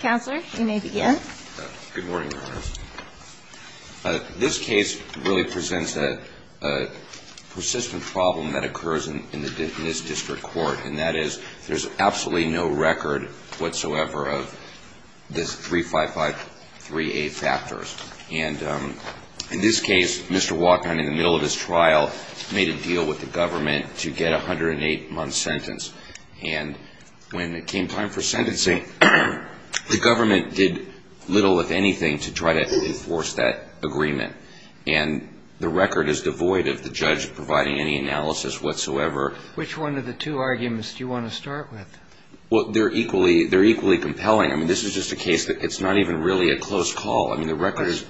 Counselor, you may begin. Good morning, Your Honors. This case really presents a persistent problem that occurs in this district court, and that is there's absolutely no record whatsoever of this 355-3A factors. And in this case, Mr. Waknine, in the middle of his trial, made a deal with the government to get a 108-month sentence. And when it came time for sentencing, the government did little, if anything, to try to enforce that agreement. And the record is devoid of the judge providing any analysis whatsoever. Which one of the two arguments do you want to start with? Well, they're equally compelling. I mean, this is just a case that it's not even really a close call. I mean, the record is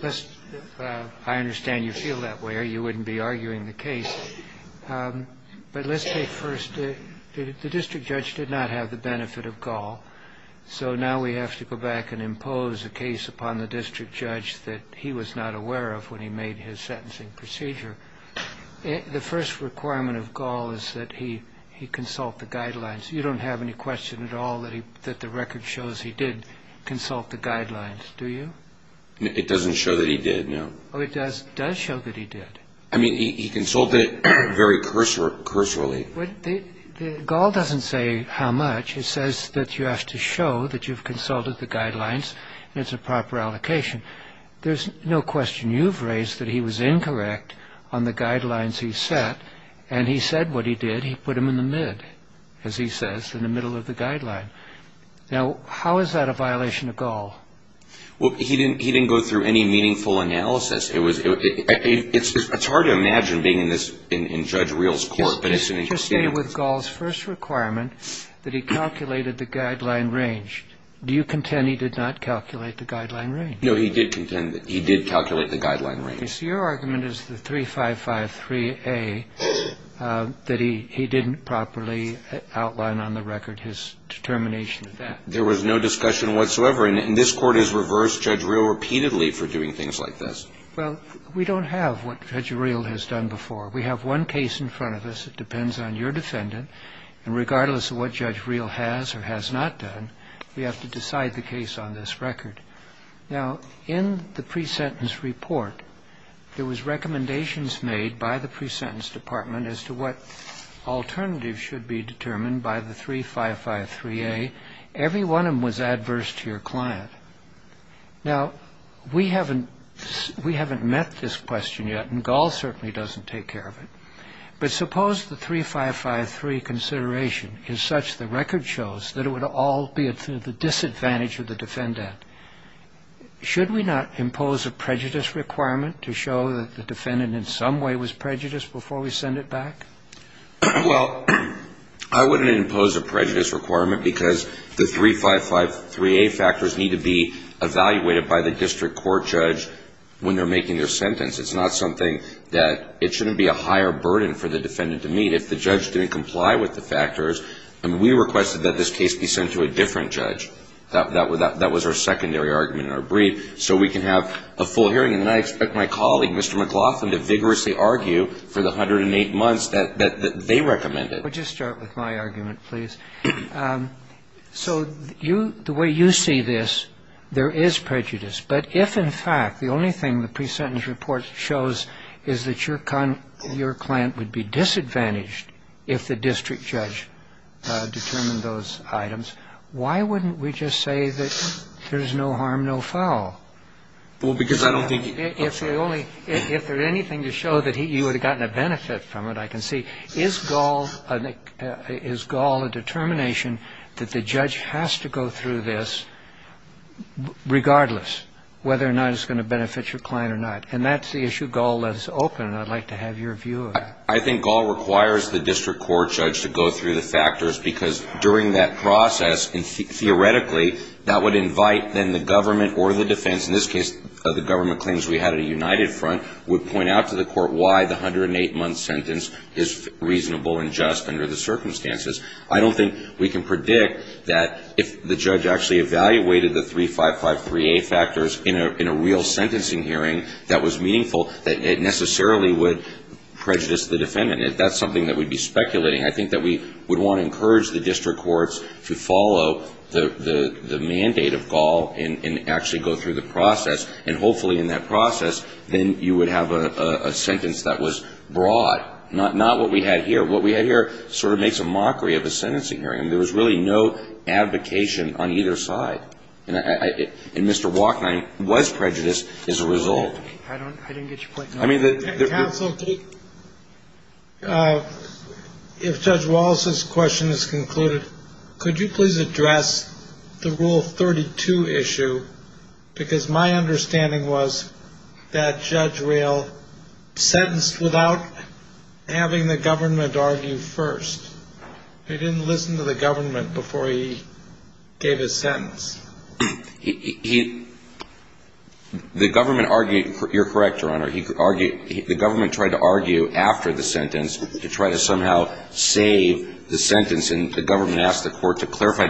– I understand you feel that way or you wouldn't be arguing the case. But let's take first – the district judge did not have the benefit of Gall. So now we have to go back and impose a case upon the district judge that he was not aware of when he made his sentencing procedure. The first requirement of Gall is that he consult the guidelines. You don't have any question at all that the record shows he did consult the guidelines, do you? It doesn't show that he did, no. Oh, it does show that he did. I mean, he consulted very cursorily. Gall doesn't say how much. It says that you have to show that you've consulted the guidelines and it's a proper allocation. There's no question you've raised that he was incorrect on the guidelines he set. And he said what he did. He put him in the mid, as he says, in the middle of the guideline. Now, how is that a violation of Gall? Well, he didn't go through any meaningful analysis. It's hard to imagine being in this – in Judge Rehl's court, but it's an interesting – Just to stay with Gall's first requirement, that he calculated the guideline range. Do you contend he did not calculate the guideline range? No, he did contend that he did calculate the guideline range. So your argument is the 3553A, that he didn't properly outline on the record his determination of that. There was no discussion whatsoever. And this Court has reversed Judge Rehl repeatedly for doing things like this. Well, we don't have what Judge Rehl has done before. We have one case in front of us. It depends on your defendant. And regardless of what Judge Rehl has or has not done, we have to decide the case on this record. Now, in the pre-sentence report, there was recommendations made by the pre-sentence department as to what alternatives should be determined by the 3553A. Every one of them was adverse to your client. Now, we haven't met this question yet, and Gall certainly doesn't take care of it. But suppose the 3553 consideration is such the record shows that it would all be at the disadvantage of the defendant. Should we not impose a prejudice requirement to show that the defendant in some way was prejudiced before we send it back? Well, I wouldn't impose a prejudice requirement because the 3553A factors need to be evaluated by the district court judge when they're making their sentence. It's not something that it shouldn't be a higher burden for the defendant to meet. If the judge didn't comply with the factors, we requested that this case be sent to a different judge. That was our secondary argument in our brief so we can have a full hearing. And I expect my colleague, Mr. McLaughlin, to vigorously argue for the 108 months that they recommended. But just start with my argument, please. So the way you see this, there is prejudice. But if, in fact, the only thing the pre-sentence report shows is that your client would be disadvantaged if the district judge determined those items, why wouldn't we just say that there's no harm, no foul? Well, because I don't think... If there's anything to show that you would have gotten a benefit from it, I can see. Is Gaul a determination that the judge has to go through this regardless whether or not it's going to benefit your client or not? And that's the issue Gaul has opened, and I'd like to have your view of that. I think Gaul requires the district court judge to go through the factors because during that process, theoretically, that would invite then the government or the defense, in this case the government claims we had a united front, would point out to the court why the 108-month sentence is reasonable and just under the circumstances. I don't think we can predict that if the judge actually evaluated the 355-3A factors in a real sentencing hearing that was meaningful, that it necessarily would prejudice the defendant. That's something that we'd be speculating. I think that we would want to encourage the district courts to follow the mandate of Gaul and actually go through the process, and hopefully in that process, then you would have a sentence that was broad, not what we had here. What we had here sort of makes a mockery of a sentencing hearing. There was really no advocation on either side, and Mr. Wachnine was prejudiced as a result. I didn't get your point. Counsel, if Judge Wallace's question is concluded, could you please address the Rule 32 issue? Because my understanding was that Judge Roehl sentenced without having the government argue first. He didn't listen to the government before he gave his sentence. The government argued. You're correct, Your Honor. The government tried to argue after the sentence to try to somehow save the sentence, and the government asked the court to clarify.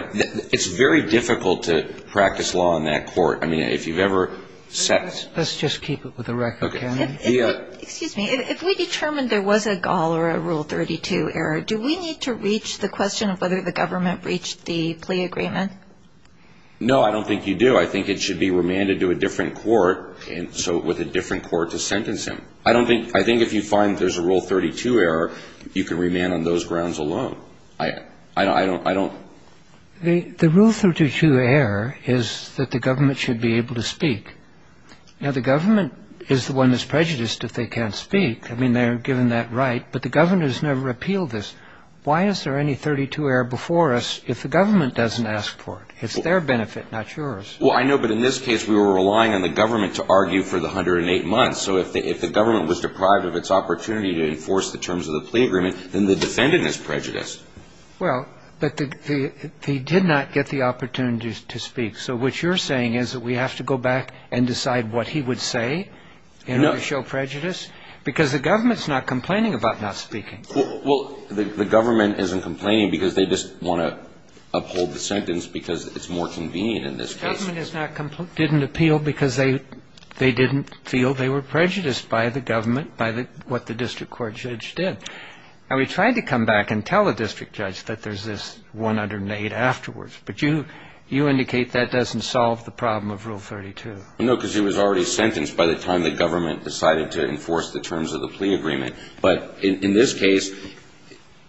It's very difficult to practice law in that court. I mean, if you've ever set ‑‑ Let's just keep it with the record, can we? Excuse me. If we determined there was a Gaul or a Rule 32 error, do we need to reach the question of whether the government breached the plea agreement? No, I don't think you do. I think it should be remanded to a different court, and so with a different court to sentence him. I don't think ‑‑ I think if you find there's a Rule 32 error, you can remand on those grounds alone. I don't ‑‑ The Rule 32 error is that the government should be able to speak. Now, the government is the one that's prejudiced if they can't speak. I mean, they're given that right, but the governors never appeal this. Why is there any 32 error before us if the government doesn't ask for it? It's their benefit, not yours. Well, I know, but in this case, we were relying on the government to argue for the 108 months, so if the government was deprived of its opportunity to enforce the terms of the plea agreement, then the defendant is prejudiced. Well, but he did not get the opportunity to speak, so what you're saying is that we have to go back and decide what he would say in order to show prejudice? Because the government's not complaining about not speaking. Well, the government isn't complaining because they just want to uphold the sentence because it's more convenient in this case. The government didn't appeal because they didn't feel they were prejudiced by the government by what the district court judge did. Now, we tried to come back and tell the district judge that there's this 108 afterwards, but you indicate that doesn't solve the problem of Rule 32. No, because he was already sentenced by the time the government decided to enforce the terms of the plea agreement. But in this case,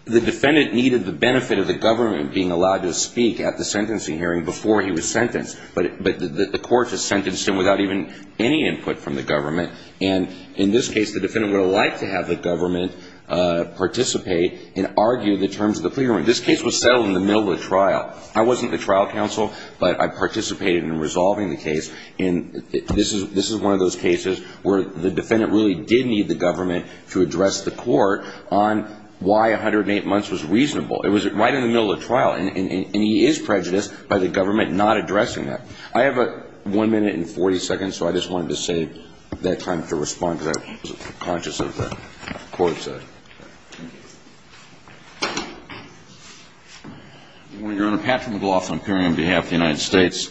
the defendant needed the benefit of the government being allowed to speak at the sentencing hearing before he was sentenced, but the court just sentenced him without even any input from the government. And in this case, the defendant would have liked to have the government participate and argue the terms of the plea agreement. This case was settled in the middle of a trial. I wasn't the trial counsel, but I participated in resolving the case. And this is one of those cases where the defendant really did need the government to address the court on why 108 months was reasonable. It was right in the middle of the trial, and he is prejudiced by the government not addressing that. I have one minute and 40 seconds, so I just wanted to save that time to respond to that. I wasn't conscious of the court's. Your Honor, Patrick McLaughlin appearing on behalf of the United States.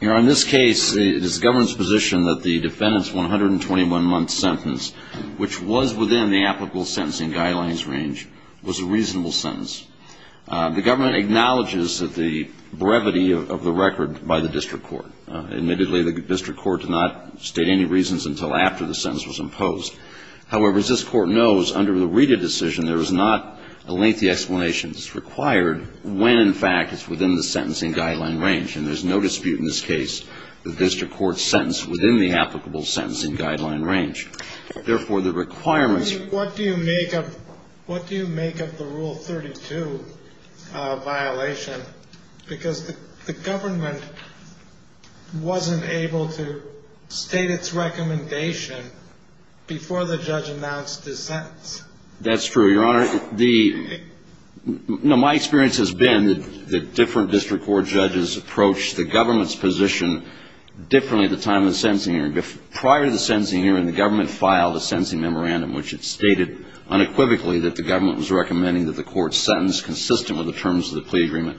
Your Honor, in this case, it is the government's position that the defendant's 121-month sentence, which was within the applicable sentencing guidelines range, was a reasonable sentence. The government acknowledges that the brevity of the record by the district court. Admittedly, the district court did not state any reasons until after the sentence was imposed. However, as this court knows, under the Rita decision, there was not a lengthy explanation when, in fact, it's within the sentencing guideline range. And there's no dispute in this case that the district court sentenced within the applicable sentencing guideline range. Therefore, the requirements. What do you make of the Rule 32 violation? Because the government wasn't able to state its recommendation before the judge announced his sentence. That's true, Your Honor. No, my experience has been that different district court judges approach the government's position differently at the time of the sentencing hearing. Prior to the sentencing hearing, the government filed a sentencing memorandum, which it stated unequivocally that the government was recommending that the court sentence consistent with the terms of the plea agreement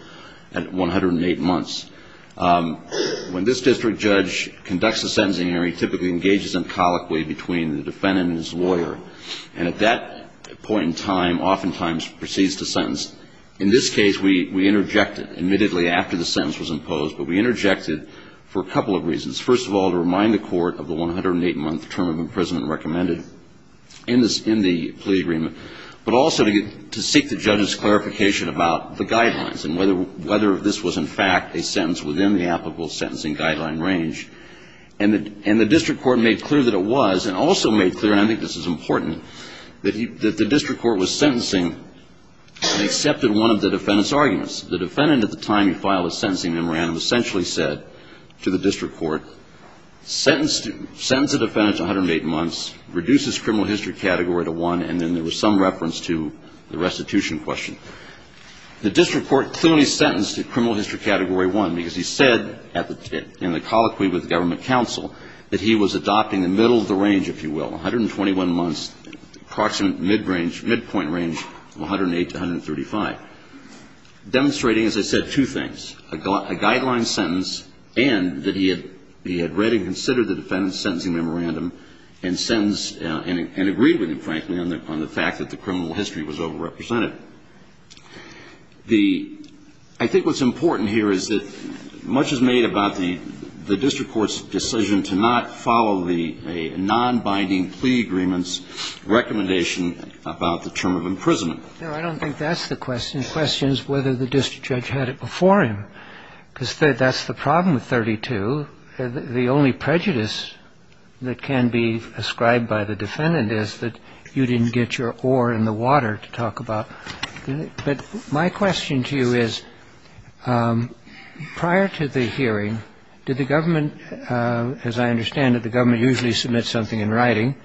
at 108 months. When this district judge conducts a sentencing hearing, he typically engages them colloquially between the defendant and his lawyer. And at that point in time, oftentimes proceeds to sentence. In this case, we interjected, admittedly, after the sentence was imposed, but we interjected for a couple of reasons. First of all, to remind the court of the 108-month term of imprisonment recommended in the plea agreement, but also to seek the judge's clarification about the guidelines and whether this was, in fact, a sentence within the applicable sentencing guideline range. And the district court made clear that it was, and also made clear, and I think this is important, that the district court was sentencing and accepted one of the defendant's arguments. The defendant, at the time he filed the sentencing memorandum, essentially said to the district court, sentence the defendant to 108 months, reduce his criminal history category to one, and then there was some reference to the restitution question. The district court clearly sentenced to criminal history category one because he said, in the colloquy with the government counsel, that he was adopting the middle of the range, if you will, 121 months, approximate mid-range, midpoint range of 108 to 135. Demonstrating, as I said, two things. A guideline sentence and that he had read and considered the defendant's sentencing memorandum and agreed with him, frankly, on the fact that the criminal history was overrepresented. I think what's important here is that much is made about the district court's decision to not follow a nonbinding plea agreement's recommendation about the term of imprisonment. No, I don't think that's the question. The question is whether the district judge had it before him. Because that's the problem with 32. The only prejudice that can be ascribed by the defendant is that you didn't get your oar in the water to talk about it. But my question to you is, prior to the hearing, did the government, as I understand it, the government usually submits something in writing.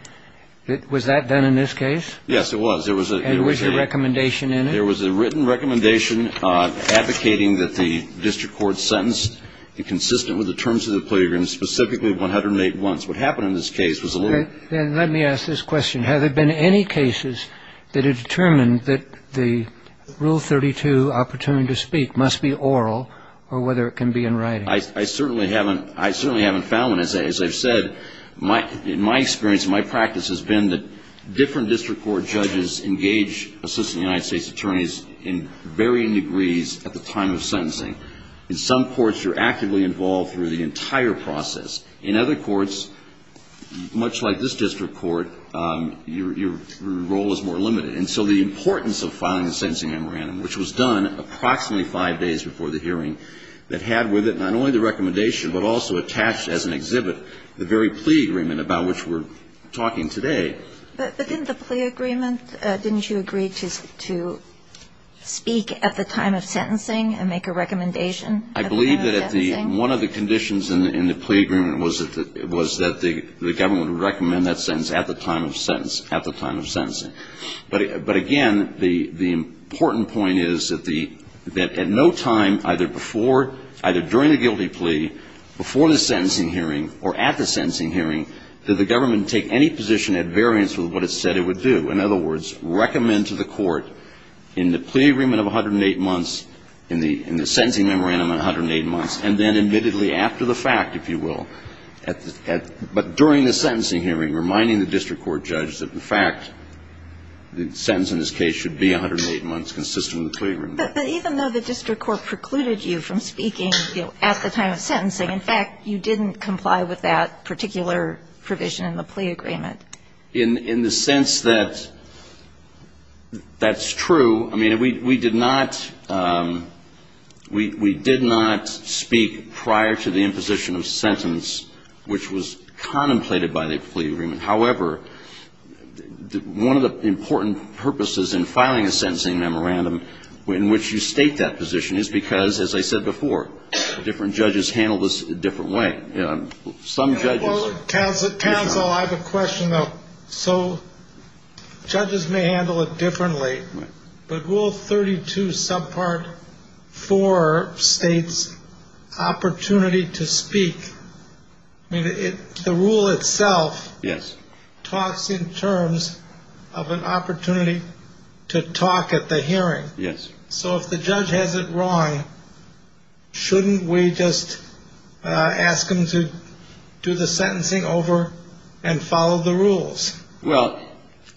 Was that done in this case? Yes, it was. There was a ‑‑ And was there a recommendation in it? There was a written recommendation advocating that the district court sentence be consistent with the terms of the plea agreement, specifically 108 months. What happened in this case was a little ‑‑ Then let me ask this question. Have there been any cases that have determined that the Rule 32 opportunity to speak must be oral or whether it can be in writing? I certainly haven't found one. As I've said, in my experience, my practice has been that different district court judges engage Assistant United States Attorneys in varying degrees at the time of sentencing. In some courts, you're actively involved through the entire process. In other courts, much like this district court, your role is more limited. And so the importance of filing the sentencing memorandum, which was done approximately five days before the hearing, that had with it not only the recommendation but also attached as an exhibit the very plea agreement about which we're talking today. But didn't the plea agreement, didn't you agree to speak at the time of sentencing and make a recommendation at the time of sentencing? I believe that one of the conditions in the plea agreement was that the government would recommend that sentence at the time of sentence, at the time of sentencing. But, again, the important point is that at no time, either before, either during the guilty plea, before the sentencing hearing or at the sentencing hearing, did the government take any position at variance with what it said it would do. In other words, recommend to the court in the plea agreement of 108 months, in the sentencing memorandum, 108 months, and then admittedly after the fact, if you will. But during the sentencing hearing, reminding the district court judge that the fact that the sentence in this case should be 108 months consistent with the plea agreement. But even though the district court precluded you from speaking at the time of sentencing, in fact, you didn't comply with that particular provision in the plea agreement. In the sense that that's true. I mean, we did not speak prior to the imposition of sentence, which was contemplated by the plea agreement. However, one of the important purposes in filing a sentencing memorandum in which you state that position is because, as I said before, different judges handle this a different way. Well, counsel, I have a question, though. So judges may handle it differently, but Rule 32, Subpart 4 states opportunity to speak. I mean, the rule itself talks in terms of an opportunity to talk at the hearing. So if the judge has it wrong, shouldn't we just ask him to do the sentencing over and follow the rules? Well,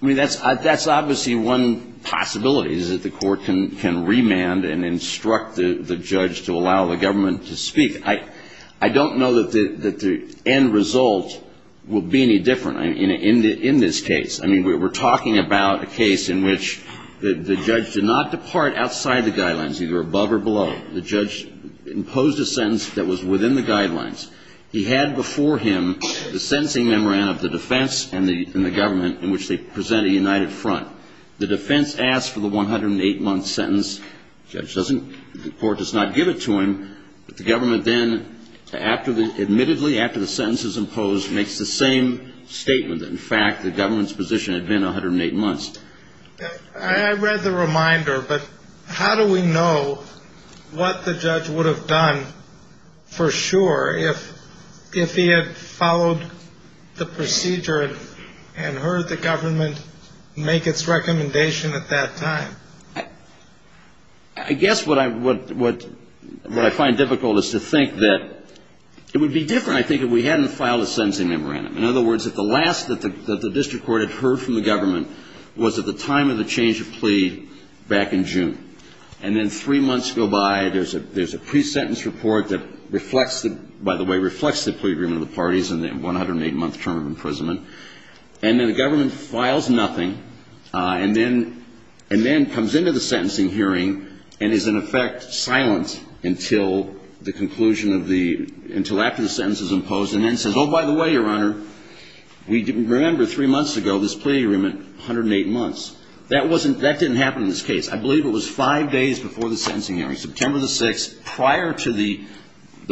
I mean, that's obviously one possibility, is that the court can remand and instruct the judge to allow the government to speak. I don't know that the end result will be any different in this case. I mean, we're talking about a case in which the judge did not depart outside the guidelines, either above or below. The judge imposed a sentence that was within the guidelines. He had before him the sentencing memorandum of the defense and the government in which they presented a united front. The defense asked for the 108-month sentence. The court does not give it to him, but the government then, admittedly, after the sentence is imposed, makes the same statement that, in fact, the government's position had been 108 months. I read the reminder, but how do we know what the judge would have done for sure if he had followed the procedure and heard the government make its recommendation at that time? I guess what I find difficult is to think that it would be different, I think, if we hadn't filed a sentencing memorandum. In other words, at the last that the district court had heard from the government was at the time of the change of plea back in June. And then three months go by. There's a pre-sentence report that reflects the, by the way, reflects the plea agreement of the parties and the 108-month term of imprisonment. And then the government files nothing and then comes into the sentencing hearing and is, in effect, silent until the conclusion of the, until after the sentence is imposed and then says, oh, by the way, Your Honor, we remember three months ago this plea agreement, 108 months. That wasn't, that didn't happen in this case. I believe it was five days before the sentencing hearing, September the 6th, prior to the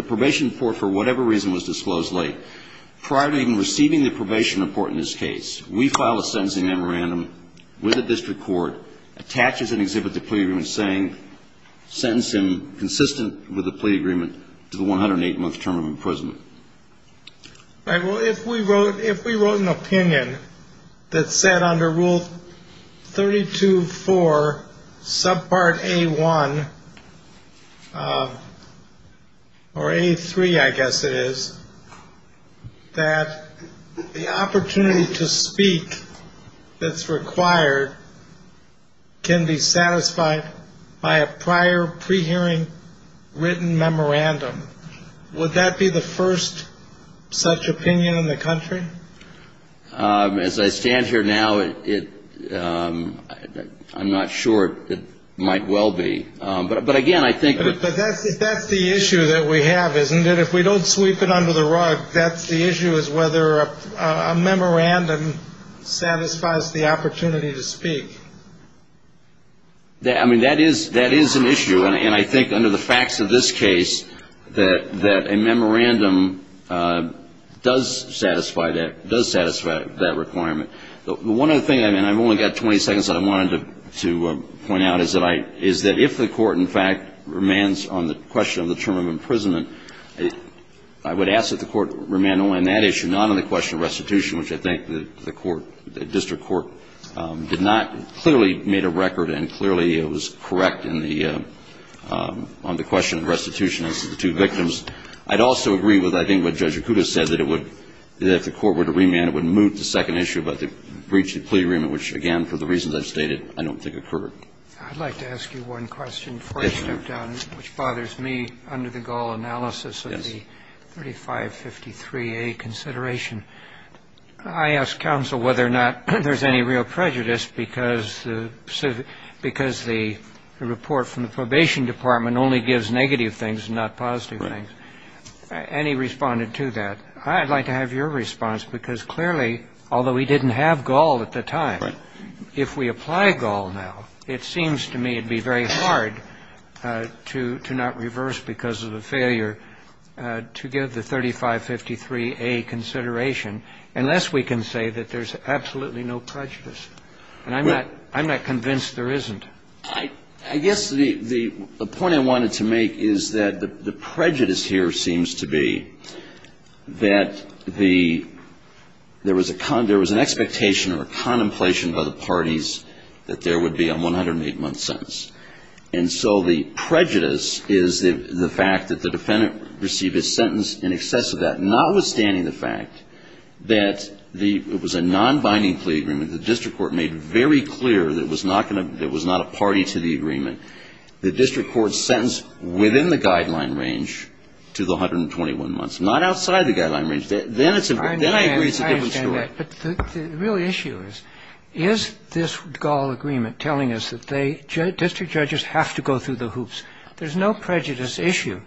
probation report, for whatever reason, was disclosed late. Prior to even receiving the probation report in this case, we file a sentencing memorandum with the district court, attaches an exhibit to the plea agreement saying, sentence him consistent with the plea agreement to the 108-month term of imprisonment. All right. Well, if we wrote, if we wrote an opinion that said under Rule 32-4, subpart A1, or A3, I guess it is, that the opportunity to speak that's required can be satisfied by a prior pre-hearing written memorandum, would that be the first such opinion in the country? As I stand here now, it, I'm not sure it might well be. But again, I think. But that's the issue that we have, isn't it? If we don't sweep it under the rug, that's the issue is whether a memorandum satisfies the opportunity to speak. I mean, that is, that is an issue. And I think under the facts of this case, that a memorandum does satisfy that, does satisfy that requirement. The one other thing, and I've only got 20 seconds that I wanted to point out, is that I, is that if the court, in fact, remands on the question of the term of imprisonment, I would ask that the court remand only on that issue, not on the question of restitution, which I think the court, the district court did not, clearly made a record, and clearly it was correct in the, on the question of restitution as to the two victims. I'd also agree with, I think, what Judge Acuda said, that it would, that if the court were to remand, it would move to the second issue about the breach of the plea agreement, which, again, for the reasons I've stated, I don't think occurred. Roberts. I'd like to ask you one question before I step down, which bothers me, under the gall analysis of the 3553A consideration. I asked counsel whether or not there's any real prejudice because the, because the report from the Probation Department only gives negative things and not positive things. And he responded to that. I'd like to have your response, because clearly, although we didn't have gall at the time, if we apply gall now, it seems to me it would be very hard to not reverse because of the failure to give the 3553A consideration unless we can say that there's absolutely no prejudice. And I'm not convinced there isn't. I guess the point I wanted to make is that the prejudice here seems to be that the there was a, there was an expectation or a contemplation by the parties that there would be a 108-month sentence. And so the prejudice is the fact that the defendant received his sentence in excess of that, notwithstanding the fact that the, it was a non-binding plea agreement. The district court made very clear that it was not going to, it was not a party to the agreement. The district court sentenced within the guideline range to the 121 months, not outside the guideline range. Then it's a, then I agree it's a different story. I understand that. But the real issue is, is this gall agreement telling us that they, district judges have to go through the hoops? There's no prejudice issue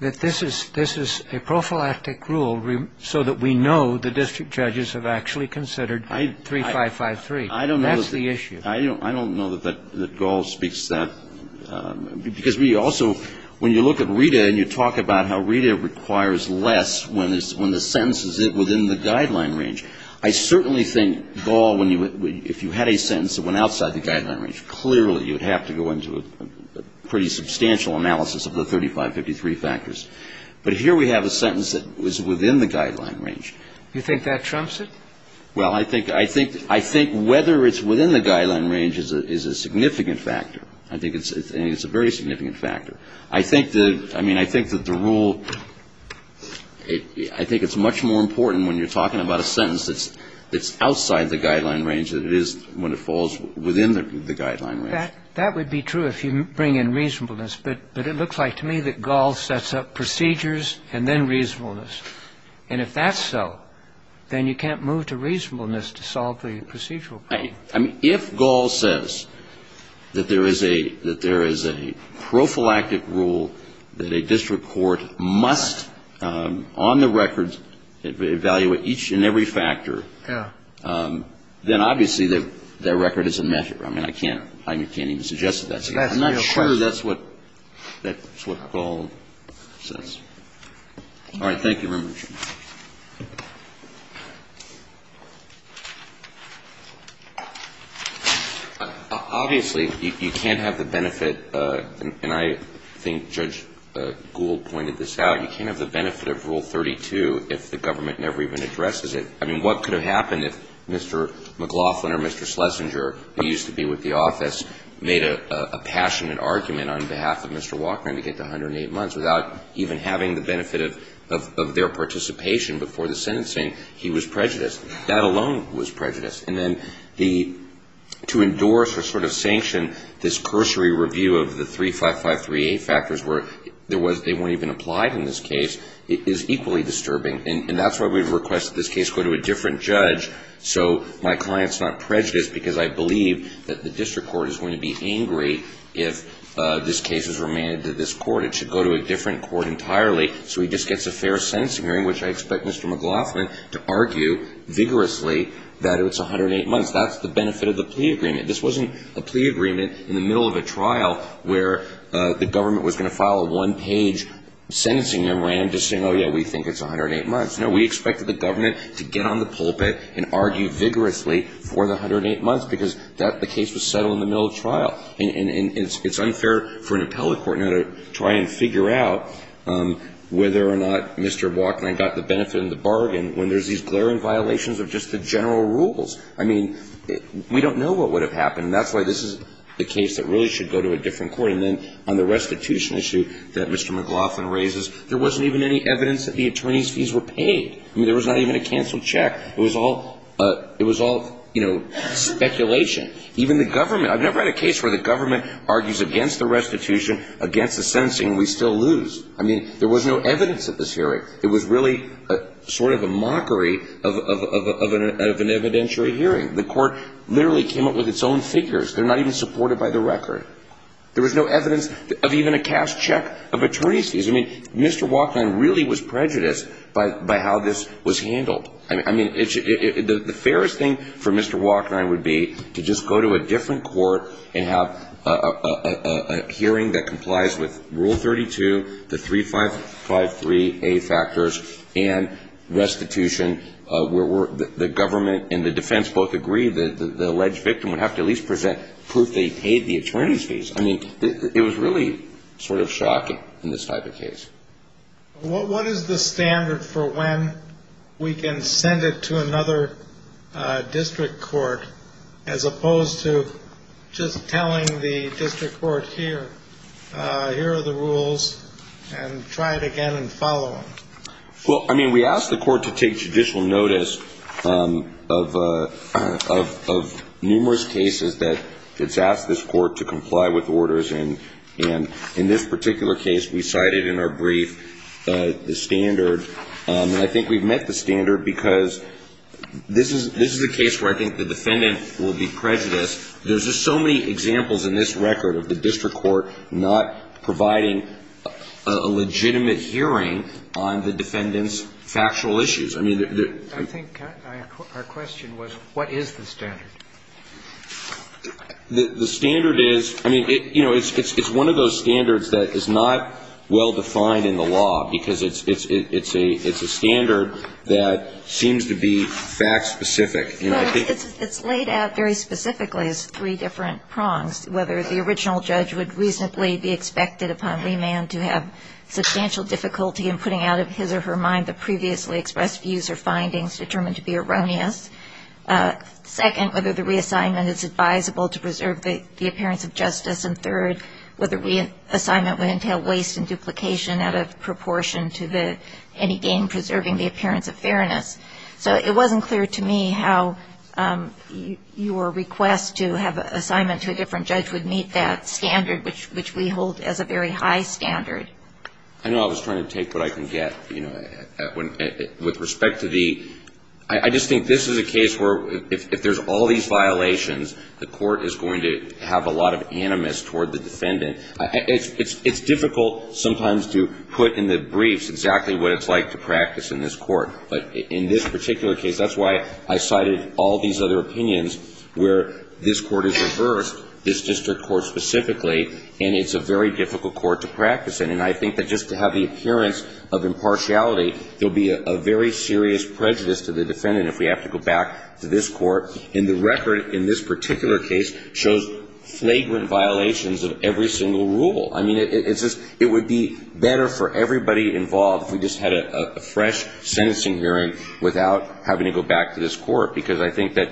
that this is a prophylactic rule so that we know the district judges have actually considered 3553. I don't know. That's the issue. I don't know that gall speaks to that. Because we also, when you look at RETA and you talk about how RETA requires less when the sentence is within the guideline range, I certainly think gall, when you, if you had a sentence that went outside the guideline range, clearly you would have to go into a pretty substantial analysis of the 3553 factors. But here we have a sentence that was within the guideline range. Do you think that trumps it? Well, I think, I think, I think whether it's within the guideline range is a significant factor. I think it's a very significant factor. I think that, I mean, I think that the rule, I think it's much more important when you're talking about a sentence that's outside the guideline range than it is when it falls within the guideline range. That would be true if you bring in reasonableness. But it looks like to me that gall sets up procedures and then reasonableness. And if that's so, then you can't move to reasonableness to solve the procedural problem. I mean, if gall says that there is a, that there is a prophylactic rule that a district court must on the records evaluate each and every factor, then obviously that record is a measure. I mean, I can't, I can't even suggest that. I'm not sure that's what, that's what gall says. All right. Thank you very much. Obviously, you can't have the benefit, and I think Judge Gould pointed this out, you can't have the benefit of Rule 32 if the government never even addresses it. I mean, what could have happened if Mr. McLaughlin or Mr. Schlesinger, who used to be with the office, made a passionate argument on behalf of Mr. Walkman to get to 108 participation before the sentencing, he was prejudiced. That alone was prejudiced. And then the, to endorse or sort of sanction this cursory review of the 35538 factors where there was, they weren't even applied in this case is equally disturbing. And that's why we've requested this case go to a different judge so my client's not prejudiced because I believe that the district court is going to be angry if this case is remanded to this court. It should go to a different court entirely. So he just gets a fair sentencing hearing, which I expect Mr. McLaughlin to argue vigorously that it's 108 months. That's the benefit of the plea agreement. This wasn't a plea agreement in the middle of a trial where the government was going to file a one-page sentencing memorandum just saying, oh, yeah, we think it's 108 months. No, we expected the government to get on the pulpit and argue vigorously for the 108 months because that, the case was settled in the middle of trial. And it's unfair for an appellate court now to try and figure out whether or not Mr. Walken and I got the benefit of the bargain when there's these glaring violations of just the general rules. I mean, we don't know what would have happened. That's why this is the case that really should go to a different court. And then on the restitution issue that Mr. McLaughlin raises, there wasn't even any evidence that the attorney's fees were paid. I mean, there was not even a canceled check. It was all, it was all, you know, speculation. Even the government, I've never had a case where the government argues against the restitution, against the sentencing, we still lose. I mean, there was no evidence at this hearing. It was really sort of a mockery of an evidentiary hearing. The court literally came up with its own figures. They're not even supported by the record. There was no evidence of even a cash check of attorney's fees. I mean, Mr. Walken really was prejudiced by how this was handled. I mean, the fairest thing for Mr. Walken and I would be to just go to a different court and have a hearing that complies with Rule 32, the 3553A factors, and restitution where the government and the defense both agree that the alleged victim would have to at least present proof they paid the attorney's fees. I mean, it was really sort of shocking in this type of case. What is the standard for when we can send it to another district court as opposed to just telling the district court, here are the rules, and try it again and follow them? Well, I mean, we asked the court to take judicial notice of numerous cases that it's asked this court to comply with orders. And in this particular case, we cited in our brief the standard. I think we've met the standard because this is a case where I think the defendant will be prejudiced. There's just so many examples in this record of the district court not providing a legitimate hearing on the defendant's factual issues. I think our question was, what is the standard? The standard is, I mean, you know, it's one of those standards that is not well-defined in the law because it's a standard that seems to be fact-specific. But it's laid out very specifically as three different prongs, whether the original judge would reasonably be expected upon remand to have substantial difficulty in putting out of his or her mind the previously expressed views or findings determined to be erroneous. Second, whether the reassignment is advisable to preserve the appearance of justice. And third, whether reassignment would entail waste and duplication out of proportion to any gain preserving the appearance of fairness. So it wasn't clear to me how your request to have an assignment to a different judge would meet that standard, which we hold as a very high standard. I know I was trying to take what I can get. With respect to the – I just think this is a case where if there's all these violations, the court is going to have a lot of animus toward the defendant. It's difficult sometimes to put in the briefs exactly what it's like to practice in this court. But in this particular case, that's why I cited all these other opinions where this court is reversed, this district court specifically, and it's a very difficult court to practice in. And I think that just to have the appearance of impartiality, there will be a very serious prejudice to the defendant if we have to go back to this court. And the record in this particular case shows flagrant violations of every single rule. I mean, it's just – it would be better for everybody involved if we just had a fresh sentencing hearing without having to go back to this court, because I think that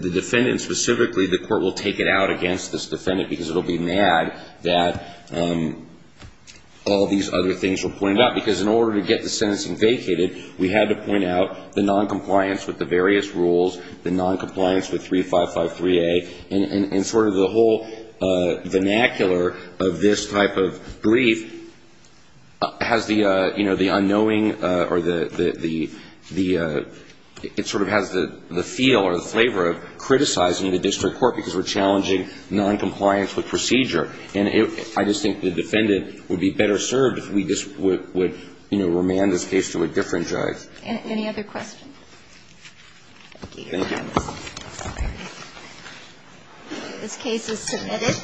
the defendant specifically, the court will take it out against this defendant because it will be mad that all these other things were pointed out. Because in order to get the sentencing vacated, we had to point out the noncompliance with the various rules, the noncompliance with 3553A, and sort of the whole vernacular of this type of brief has the unknowing or the – it sort of has the feel or the flavor of criticizing the district court because we're challenging noncompliance with procedure. And I just think the defendant would be better served if we just would, you know, remand this case to a different judge. Any other questions? Thank you. Thank you. This case is submitted.